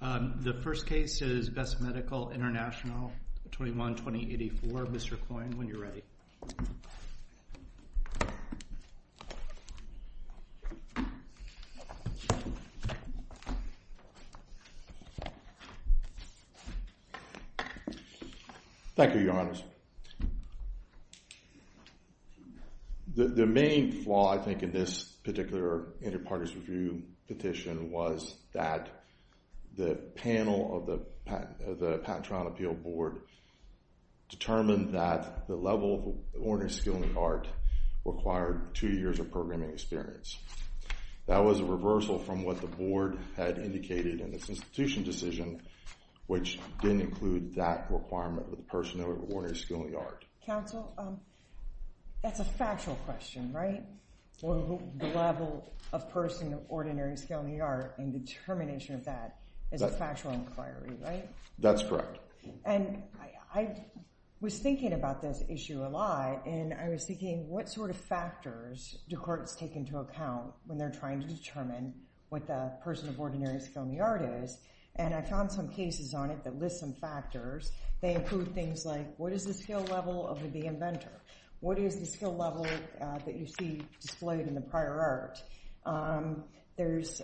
The first case is Best Medical International, 21-2084. Mr. Coyne, when you're ready. Thank you, Your Honors. The main flaw, I think, in this particular Interparties Review petition was that the panel of the Patent Trial and Appeal Board determined that the level of ordinary skill and art required two years of programming experience. That was a reversal from what the Board had indicated in its institution decision, which didn't include that requirement of the person of ordinary skill and the art. Counsel, that's a factual question, right? The level of person of ordinary skill and the art and determination of that is a factual inquiry, right? That's correct. And I was thinking about this issue a lot. And I was thinking, what sort of factors do courts take into account when they're trying to determine what the person of ordinary skill and the art is? And I found some cases on it that list some factors. They include things like, what is the skill level of the inventor? What is the skill level that you see displayed in the prior art? There's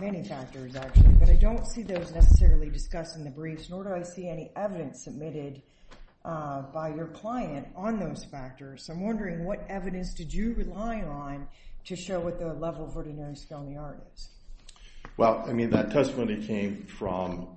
many factors, actually. But I don't see those necessarily discussed in the briefs, nor do I see any evidence submitted by your client on those factors. So I'm wondering, what evidence did you rely on to show what the level of ordinary skill and the art is? Well, I mean, that testimony came from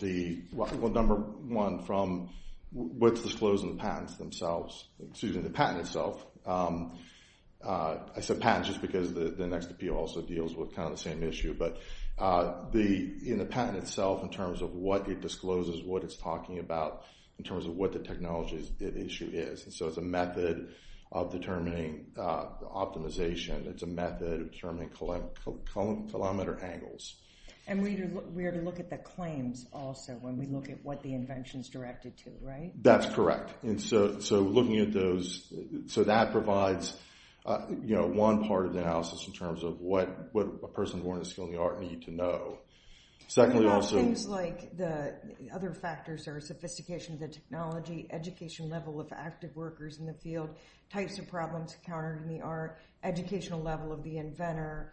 the, well, number one, from what's disclosed in the patents themselves, excuse me, the patent itself. I said patents just because the next appeal also deals with kind of the same issue. But in the patent itself, in terms of what it discloses, what it's talking about, in terms of what the technology issue is. And so it's a method of determining optimization. It's a method of determining kilometer angles. And we are to look at the claims also when we look at what the invention is directed to, right? That's correct. And so looking at those, so that provides, you know, one part of the analysis in terms of what a person born with a skill in the art need to know. And about things like the other factors are sophistication of the technology, education level of active workers in the field, types of problems encountered in the art, educational level of the inventor,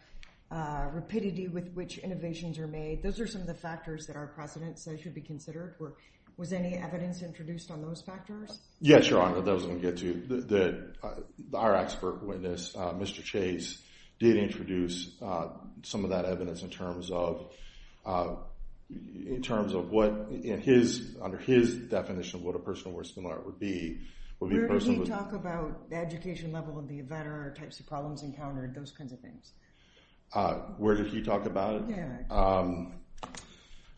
rapidity with which innovations are made. Those are some of the factors that are precedents that should be considered. Was any evidence introduced on those factors? Yes, Your Honor, that was going to get to you. Our expert witness, Mr. Chase, did introduce some of that evidence in terms of what, under his definition, what a person born with a skill in the art would be. Where did he talk about the education level of the inventor, types of problems encountered, those kinds of things? Where did he talk about it? Yeah. I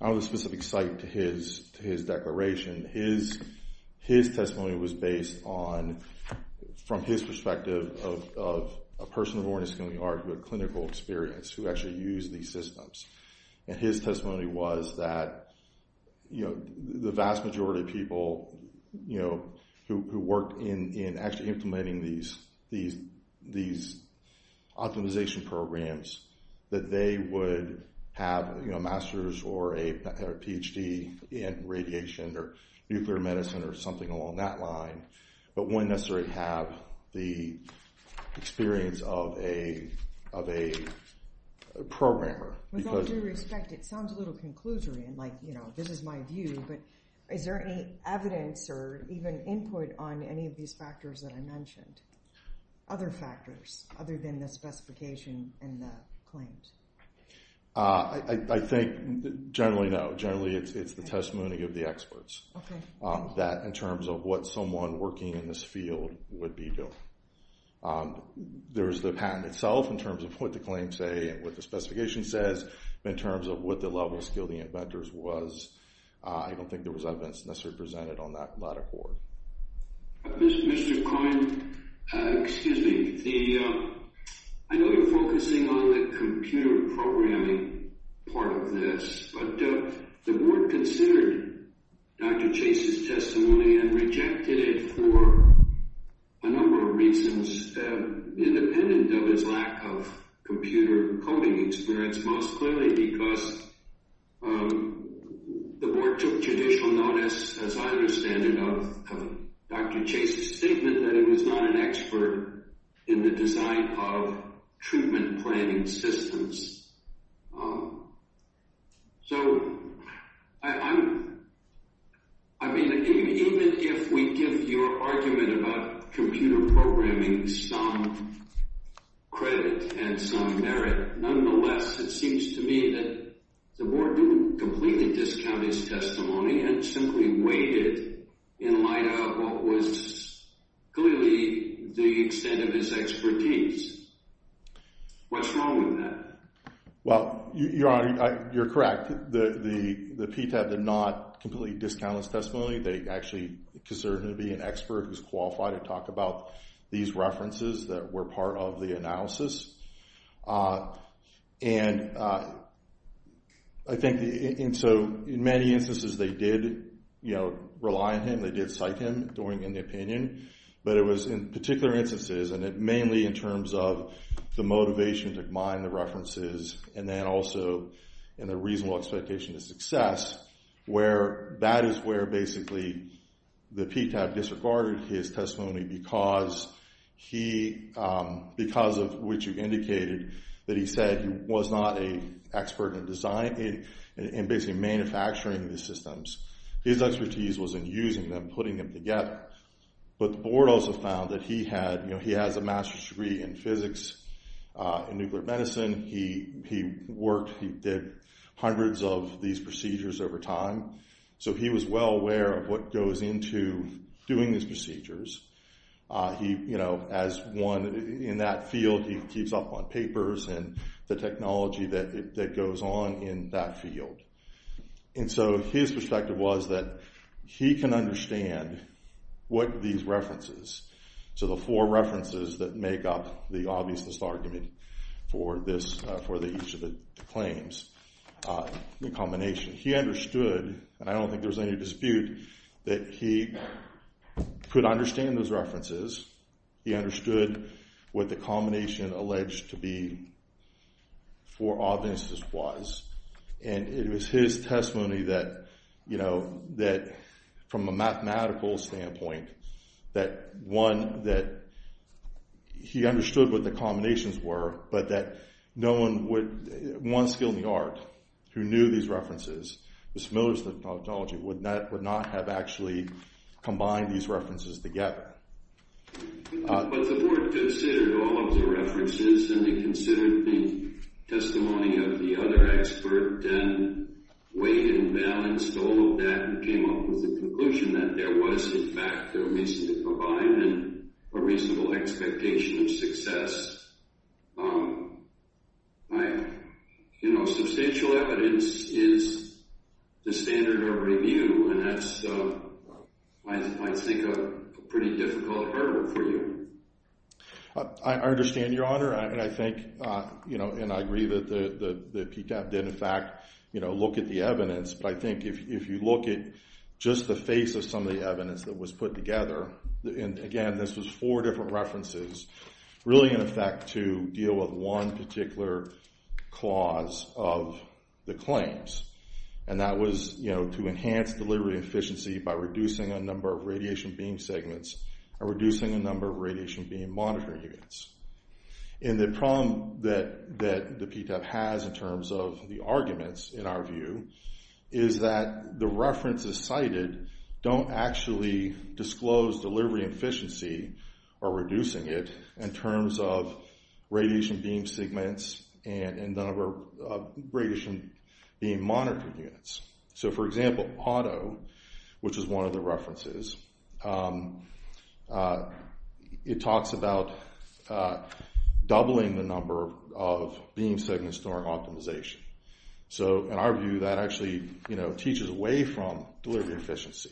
don't have a specific site to his declaration. His testimony was based on, from his perspective, of a person born with a skill in the art who had clinical experience, who actually used these systems. And his testimony was that the vast majority of people who worked in actually implementing these optimization programs, that they would have a master's or a Ph.D. in radiation or nuclear medicine or something along that line, but wouldn't necessarily have the experience of a programmer. With all due respect, it sounds a little conclusory and like, you know, this is my view, but is there any evidence or even input on any of these factors that I mentioned, other factors, other than the specification and the claims? I think generally no. Generally it's the testimony of the experts. Okay. That in terms of what someone working in this field would be doing. There's the patent itself in terms of what the claims say and what the specification says, but in terms of what the level of skill the inventors was, I don't think there was evidence necessarily presented on that latter part. Mr. Coyne, excuse me. I know you're focusing on the computer programming part of this, but the board considered Dr. Chase's testimony and rejected it for a number of reasons, independent of his lack of computer coding experience, most clearly because the board took judicial notice, as I understand it, of Dr. Chase's statement that he was not an expert in the design of treatment planning systems. So, I mean, even if we give your argument about computer programming some credit and some merit, nonetheless, it seems to me that the board didn't completely discount his testimony and simply weighed it in light of what was clearly the extent of his expertise. What's wrong with that? Well, Your Honor, you're correct. The PTAB did not completely discount his testimony. They actually considered him to be an expert who's qualified to talk about these references that were part of the analysis. And so in many instances they did rely on him, they did cite him during the opinion, but it was in particular instances, and it mainly in terms of the motivation to mine the references and then also in the reasonable expectation of success, where that is where basically the PTAB disregarded his testimony because of which you indicated that he said he was not an expert in design, in basically manufacturing the systems. His expertise was in using them, putting them together. But the board also found that he has a master's degree in physics, in nuclear medicine. He worked, he did hundreds of these procedures over time. So he was well aware of what goes into doing these procedures. He, you know, as one in that field, he keeps up on papers and the technology that goes on in that field. And so his perspective was that he can understand what these references, so the four references that make up the obviousness argument for each of the claims, the combination. He understood, and I don't think there's any dispute, that he could understand those references. He understood what the combination alleged to be for obviousness was. And it was his testimony that, you know, that from a mathematical standpoint, that one, that he understood what the combinations were, but that no one would, one skilled in the art, who knew these references, was familiar with the technology, would not have actually combined these references together. But the board considered all of the references and they considered the testimony of the other expert and weighed and balanced all of that and came up with the conclusion that there was, in fact, a reasonable expectation of success. You know, substantial evidence is the standard of review, and that's, I think, a pretty difficult hurdle for you. I understand, Your Honor, and I think, you know, and I agree that PTAB did, in fact, you know, look at the evidence. But I think if you look at just the face of some of the evidence that was put together, and again, this was four different references, really, in effect, to deal with one particular clause of the claims. And that was, you know, to enhance delivery efficiency by reducing a number of radiation beam segments and reducing the number of radiation beam monitoring units. And the problem that the PTAB has in terms of the arguments, in our view, is that the references cited don't actually disclose delivery efficiency or reducing it in terms of radiation beam segments and the number of radiation beam monitoring units. So, for example, Otto, which is one of the references, it talks about doubling the number of beam segments during optimization. So, in our view, that actually, you know, teaches away from delivery efficiency.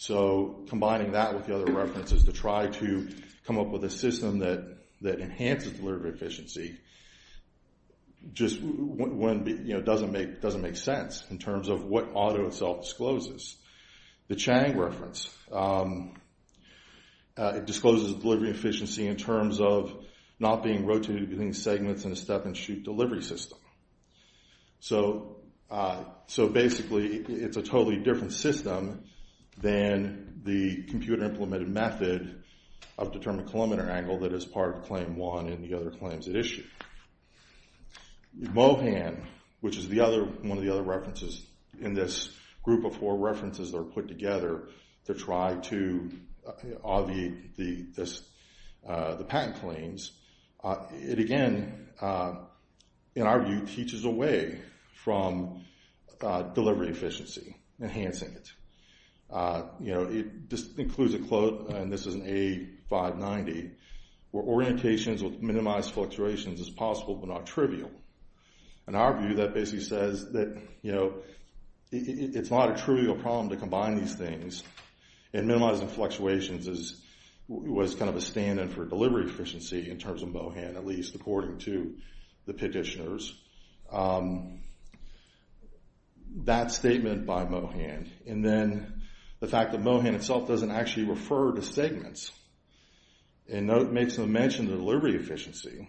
So combining that with the other references to try to come up with a system that enhances delivery efficiency just doesn't make sense in terms of what Otto itself discloses. The Chang reference, it discloses delivery efficiency in terms of not being rotated between segments in a step-and-shoot delivery system. So, basically, it's a totally different system than the computer-implemented method of determined kilometer angle that is part of Claim 1 and the other claims it issued. Mohan, which is one of the other references in this group of four references that are put together to try to obviate the patent claims, it, again, in our view, teaches away from delivery efficiency, enhancing it. You know, it just includes a quote, and this is an A590, where orientations with minimized fluctuations is possible but not trivial. In our view, that basically says that, you know, it's not a trivial problem to combine these things, and minimizing fluctuations was kind of a stand-in for delivery efficiency in terms of Mohan, at least according to the petitioners. That statement by Mohan, and then the fact that Mohan itself doesn't actually refer to segments, and makes no mention of the delivery efficiency,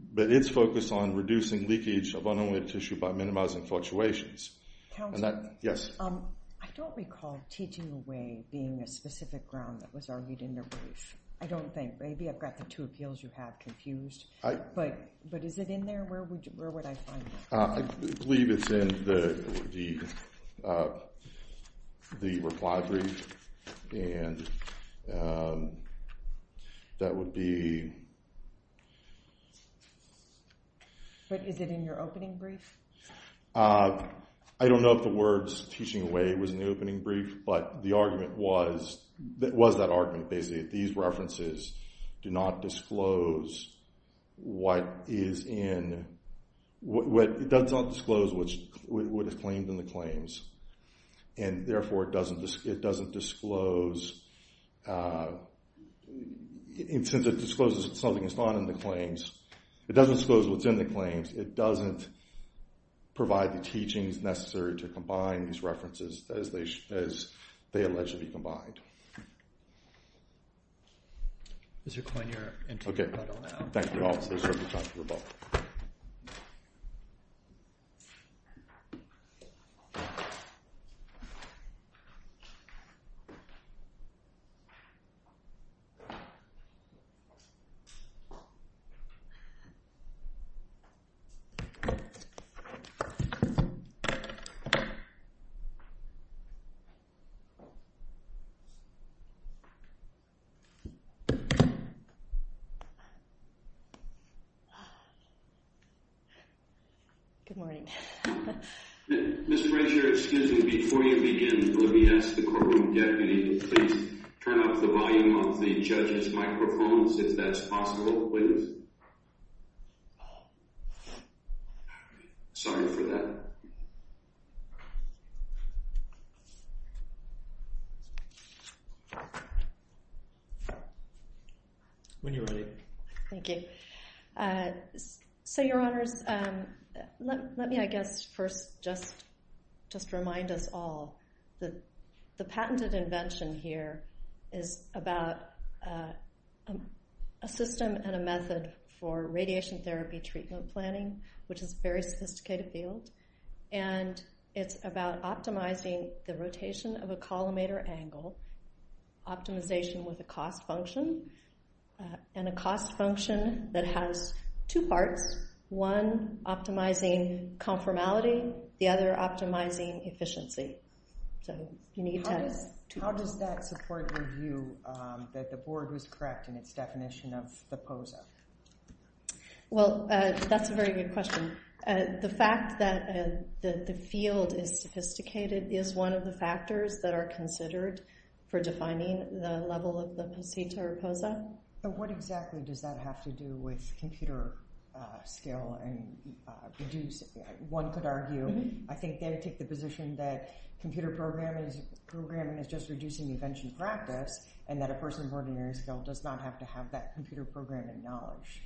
but it's focused on reducing leakage of unannulated tissue by minimizing fluctuations. Counselor? Yes. I don't recall teaching away being a specific ground that was argued in the brief. I don't think. Maybe I've got the two appeals you have confused, but is it in there? Where would I find it? I believe it's in the reply brief, and that would be… But is it in your opening brief? I don't know if the words teaching away was in the opening brief, but the argument was that argument, basically, that these references do not disclose what is in… It does not disclose what is claimed in the claims, and therefore it doesn't disclose… Since it discloses something that's not in the claims, it doesn't disclose what's in the claims. It doesn't provide the teachings necessary to combine these references as they allegedly combined. Mr. Coyne, you're into your title now. Thank you all. Thank you. Good morning. Ms. Frazier, excuse me, before you begin, let me ask the courtroom deputy to please turn up the volume on the judges' microphones, if that's possible, please. Sorry for that. When you're ready. Thank you. So, Your Honors, let me, I guess, first just remind us all that the patented invention here is about a system and a method for radiation therapy treatment planning, which is a very sophisticated field, and it's about optimizing the rotation of a collimator angle, optimization with a cost function, and a cost function that has two parts, one optimizing conformality, the other optimizing efficiency. How does that support your view that the board was correct in its definition of the POSA? Well, that's a very good question. The fact that the field is sophisticated is one of the factors that are considered for defining the level of the POSITA or POSA. But what exactly does that have to do with computer skill? One could argue, I think, they take the position that computer programming is just reducing invention practice and that a person of ordinary skill does not have to have that computer programming knowledge.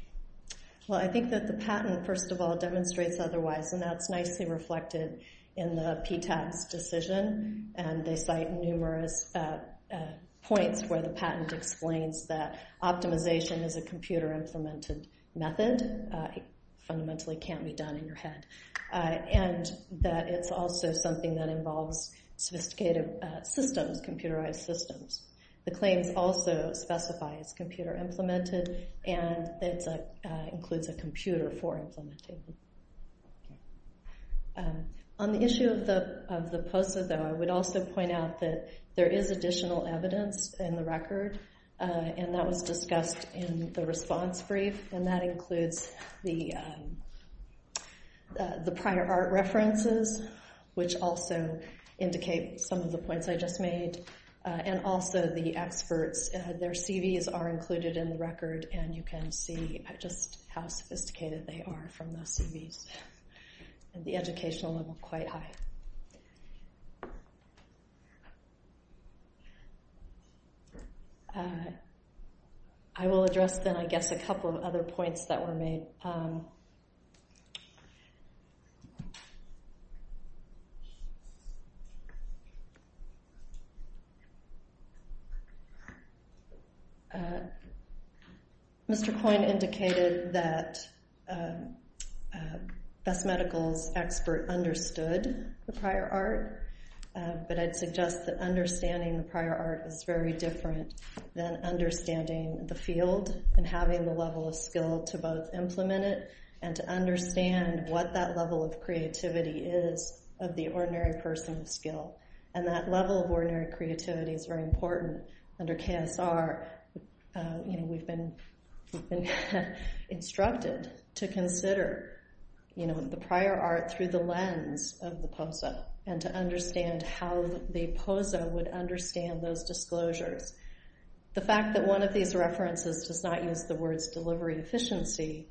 Well, I think that the patent, first of all, demonstrates otherwise, and that's nicely reflected in the PTAS decision, and they cite numerous points where the patent explains that optimization is a computer-implemented method, fundamentally can't be done in your head, and that it's also something that involves sophisticated systems, computerized systems. The claims also specify it's computer-implemented, and it includes a computer for implementation. On the issue of the POSA, though, I would also point out that there is additional evidence in the record, and that was discussed in the response brief, and that includes the prior art references, which also indicate some of the points I just made, and also the experts. Their CVs are included in the record, and you can see just how sophisticated they are from the CVs, and the educational level quite high. I will address, then, I guess, a couple of other points that were made. Mr. Coyne indicated that Best Medical's expert understood the prior art references, but I'd suggest that understanding the prior art is very different than understanding the field and having the level of skill to both implement it and to understand what that level of creativity is of the ordinary person of skill, and that level of ordinary creativity is very important. Under KSR, we've been instructed to consider the prior art through the lens of the POSA, and to understand how the POSA would understand those disclosures. The fact that one of these references does not use the words delivery efficiency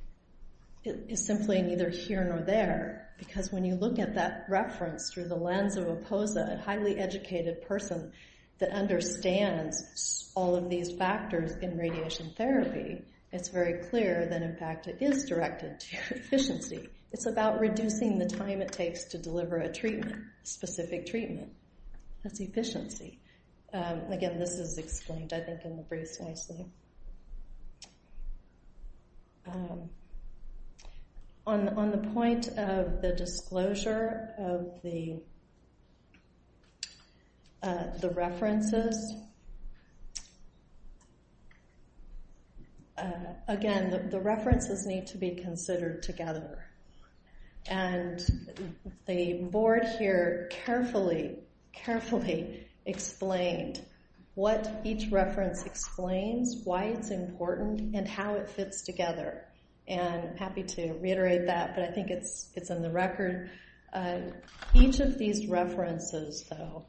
is simply neither here nor there, because when you look at that reference through the lens of a POSA, a highly educated person that understands all of these factors in radiation therapy, it's very clear that, in fact, it is directed to efficiency. It's about reducing the time it takes to deliver a treatment, a specific treatment. That's efficiency. Again, this is explained, I think, in the briefs nicely. On the point of the disclosure of the references, again, the references need to be considered together, and the board here carefully, carefully explained what each reference explains, why it's important, and how it fits together. I'm happy to reiterate that, but I think it's in the record. Each of these references, though,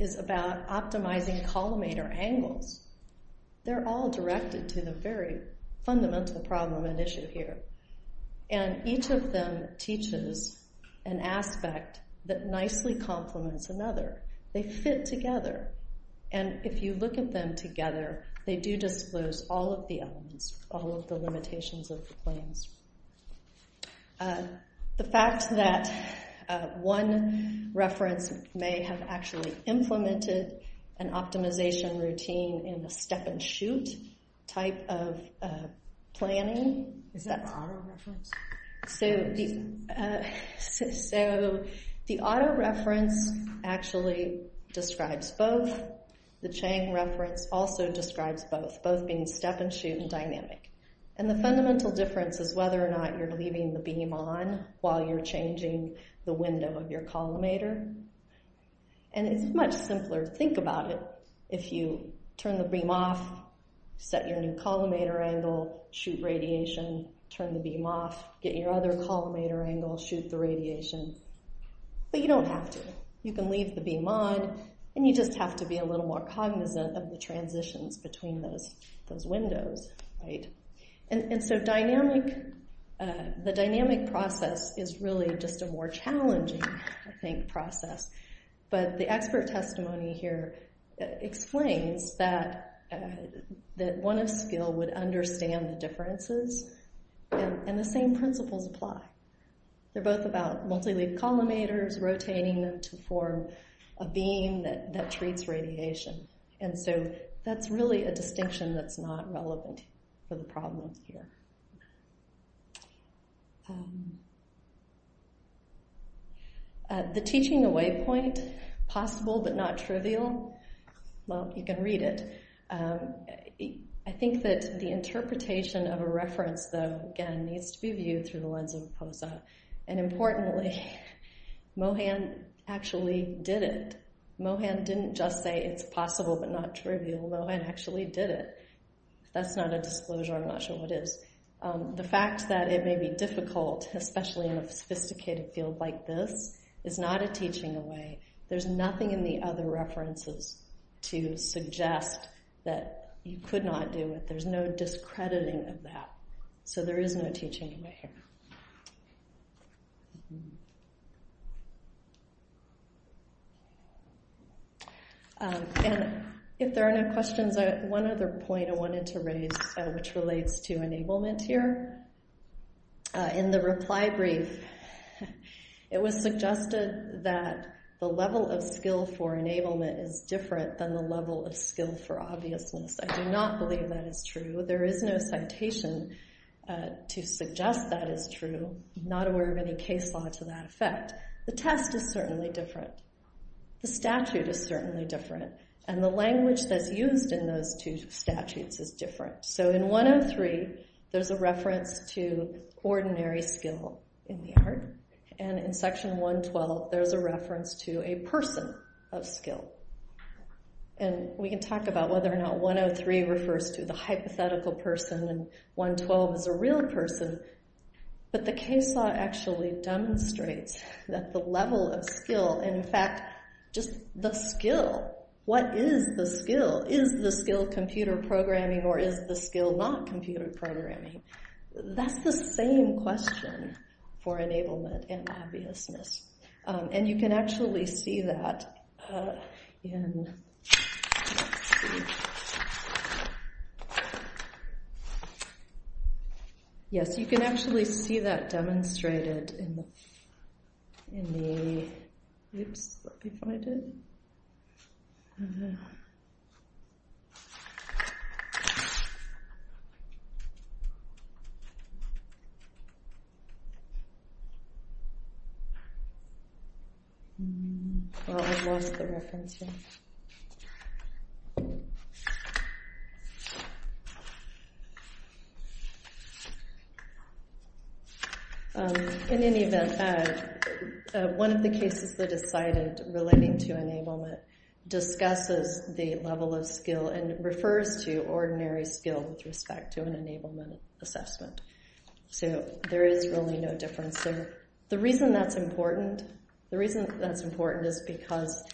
is about optimizing collimator angles. They're all directed to the very fundamental problem at issue here, and each of them teaches an aspect that nicely complements another. They fit together, and if you look at them together, they do disclose all of the elements, all of the limitations of the claims. The fact that one reference may have actually implemented an optimization routine in a step-and-shoot type of planning... Is that an auto-reference? So, the auto-reference actually describes both. The Chang reference also describes both, both being step-and-shoot and dynamic. And the fundamental difference is whether or not you're leaving the beam on while you're changing the window of your collimator. And it's much simpler. Think about it. If you turn the beam off, set your new collimator angle, shoot radiation, turn the beam off, get your other collimator angle, shoot the radiation. But you don't have to. You can leave the beam on, and you just have to be a little more cognizant of the transitions between those windows. And so, the dynamic process is really just a more challenging process. But the expert testimony here explains that one of skill would understand the differences, and the same principles apply. They're both about multi-leaf collimators, rotating them to form a beam that treats radiation. And so, that's really a distinction that's not relevant for the problem here. The teaching away point, possible but not trivial? Well, you can read it. I think that the interpretation of a reference, though, again, needs to be viewed through the lens of Posa. And importantly, Mohan actually did it. Mohan didn't just say it's possible but not trivial. Mohan actually did it. If that's not a disclosure, I'm not sure what is. The fact that it may be difficult, especially in a sophisticated field like this, is not a teaching away. There's nothing in the other references to suggest that you could not do it. There's no discrediting of that. So, there is no teaching away here. And if there are no questions, one other point I wanted to raise, which relates to enablement here. In the reply brief, it was suggested that the level of skill for enablement is different than the level of skill for obviousness. I do not believe that is true. There is no citation to suggest that is true, not aware of any case law to that effect. The test is certainly different. The statute is certainly different. And the language that's used in those two statutes is different. So, in 103, there's a reference to ordinary skill in the art. And in section 112, there's a reference to a person of skill. And we can talk about whether or not 103 refers to the hypothetical person and 112 is a real person. But the case law actually demonstrates that the level of skill, in fact, just the skill, what is the skill? Is the skill computer programming or is the skill not computer programming? That's the same question for enablement and obviousness. And you can actually see that in… Let me see. Yes, you can actually see that demonstrated in the… Oops, let me find it. Mm-hmm. Well, I've lost the reference here. In any event, one of the cases that is cited relating to enablement discusses the level of skill and refers to ordinary skill with respect to an enablement assessment. So, there is really no difference there. The reason that's important, the reason that's important is because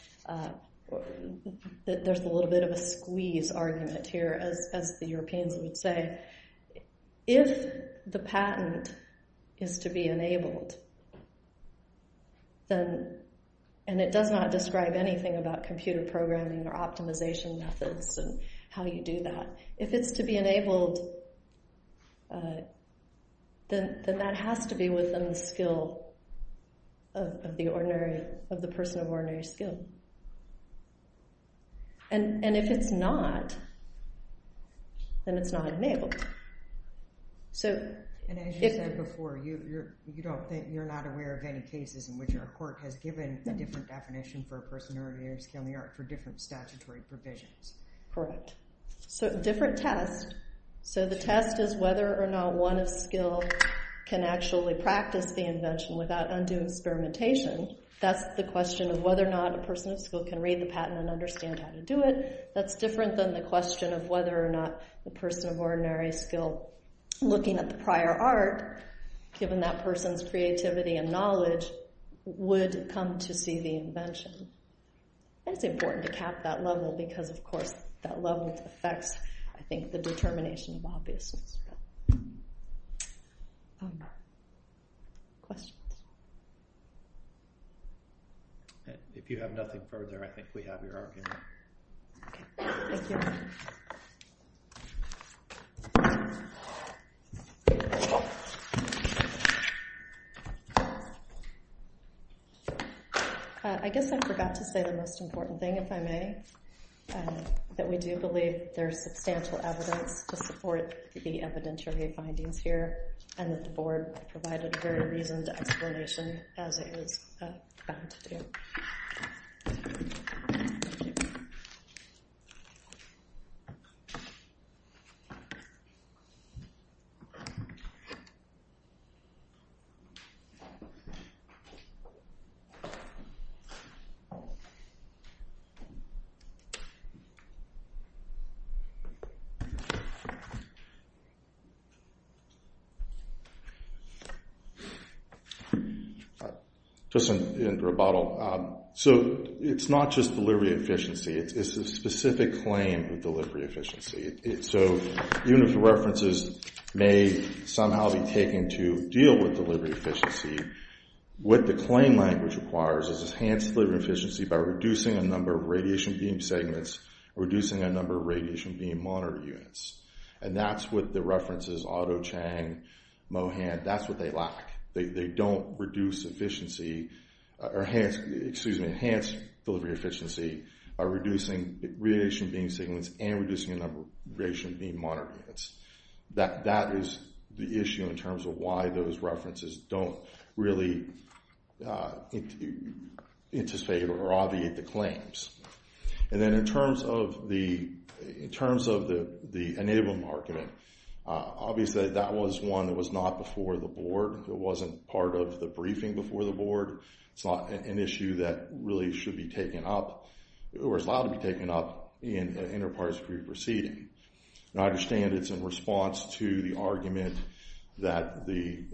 there's a little bit of a squeeze argument here, as the Europeans would say. If the patent is to be enabled, and it does not describe anything about computer programming or optimization methods and how you do that, if it's to be enabled, then that has to be within the skill of the person of ordinary skill. And if it's not, then it's not enabled. And as you said before, you're not aware of any cases in which our court has given a different definition for a person of ordinary skill in the art for different statutory provisions. Correct. So, different test. So, the test is whether or not one of skill can actually practice the invention without undue experimentation. That's the question of whether or not a person of skill can read the patent and understand how to do it. That's different than the question of whether or not the person of ordinary skill, looking at the prior art, given that person's creativity and knowledge, would come to see the invention. And it's important to cap that level because, of course, that level affects, I think, the determination of obviousness. Questions? If you have nothing further, I think we have your argument. Okay. Thank you. I guess I forgot to say the most important thing, if I may, that we do believe there's substantial evidence to support the evidentiary findings here and that the board provided a very reasoned explanation as it was bound to do. Thank you. Just in rebuttal. So, it's not just delivery efficiency. It's a specific claim of delivery efficiency. So, even if the references may somehow be taken to deal with delivery efficiency, what the claim language requires is enhanced delivery efficiency by reducing a number of radiation beam segments, reducing a number of radiation beam monitor units. And that's what the references, Otto Chang, Mohan, that's what they lack. They don't reduce efficiency... Excuse me, enhance delivery efficiency by reducing radiation beam segments and reducing a number of radiation beam monitor units. That is the issue in terms of why those references don't really anticipate or obviate the claims. And then in terms of the enabling argument, obviously that was one that was not before the board. It wasn't part of the briefing before the board. It's not an issue that really should be taken up or is allowed to be taken up in an enterprise pre-proceeding. And I understand it's in response to the argument that the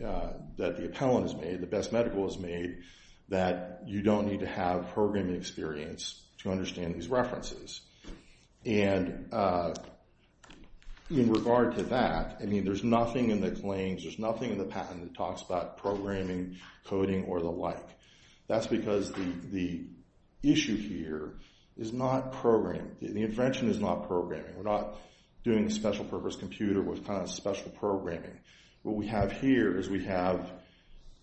appellant has made, the best medical has made, that you don't need to have programming experience to understand these references. And in regard to that, I mean, there's nothing in the claims, there's nothing in the patent that talks about programming, coding, or the like. That's because the issue here is not programming. The intervention is not programming. We're not doing a special-purpose computer with kind of special programming. What we have here is we have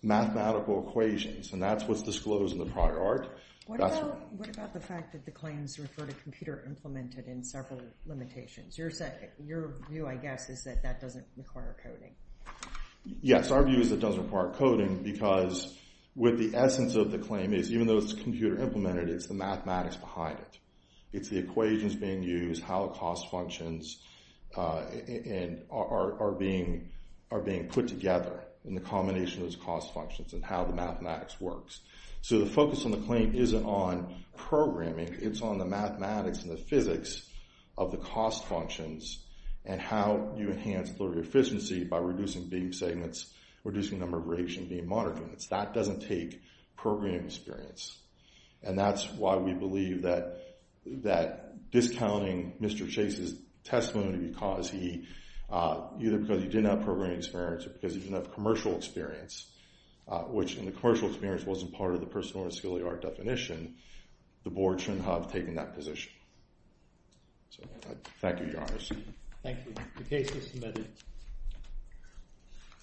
mathematical equations, and that's what's disclosed in the prior art. What about the fact that the claims refer to computer implemented in several limitations? Your view, I guess, is that that doesn't require coding. Yes, our view is it doesn't require coding because what the essence of the claim is, even though it's computer implemented, it's the mathematics behind it. It's the equations being used, how cost functions are being put together, and the combination of those cost functions and how the mathematics works. So the focus on the claim isn't on programming. It's on the mathematics and the physics of the cost functions and how you enhance efficiency by reducing beam segments, reducing the number of rates and beam monitor units. That doesn't take programming experience, and that's why we believe that discounting Mr. Chase's testimony because he either didn't have programming experience or because he didn't have commercial experience, which in the commercial experience wasn't part of the personal mission of taking that position. So thank you, Your Honor. Thank you. The case is submitted.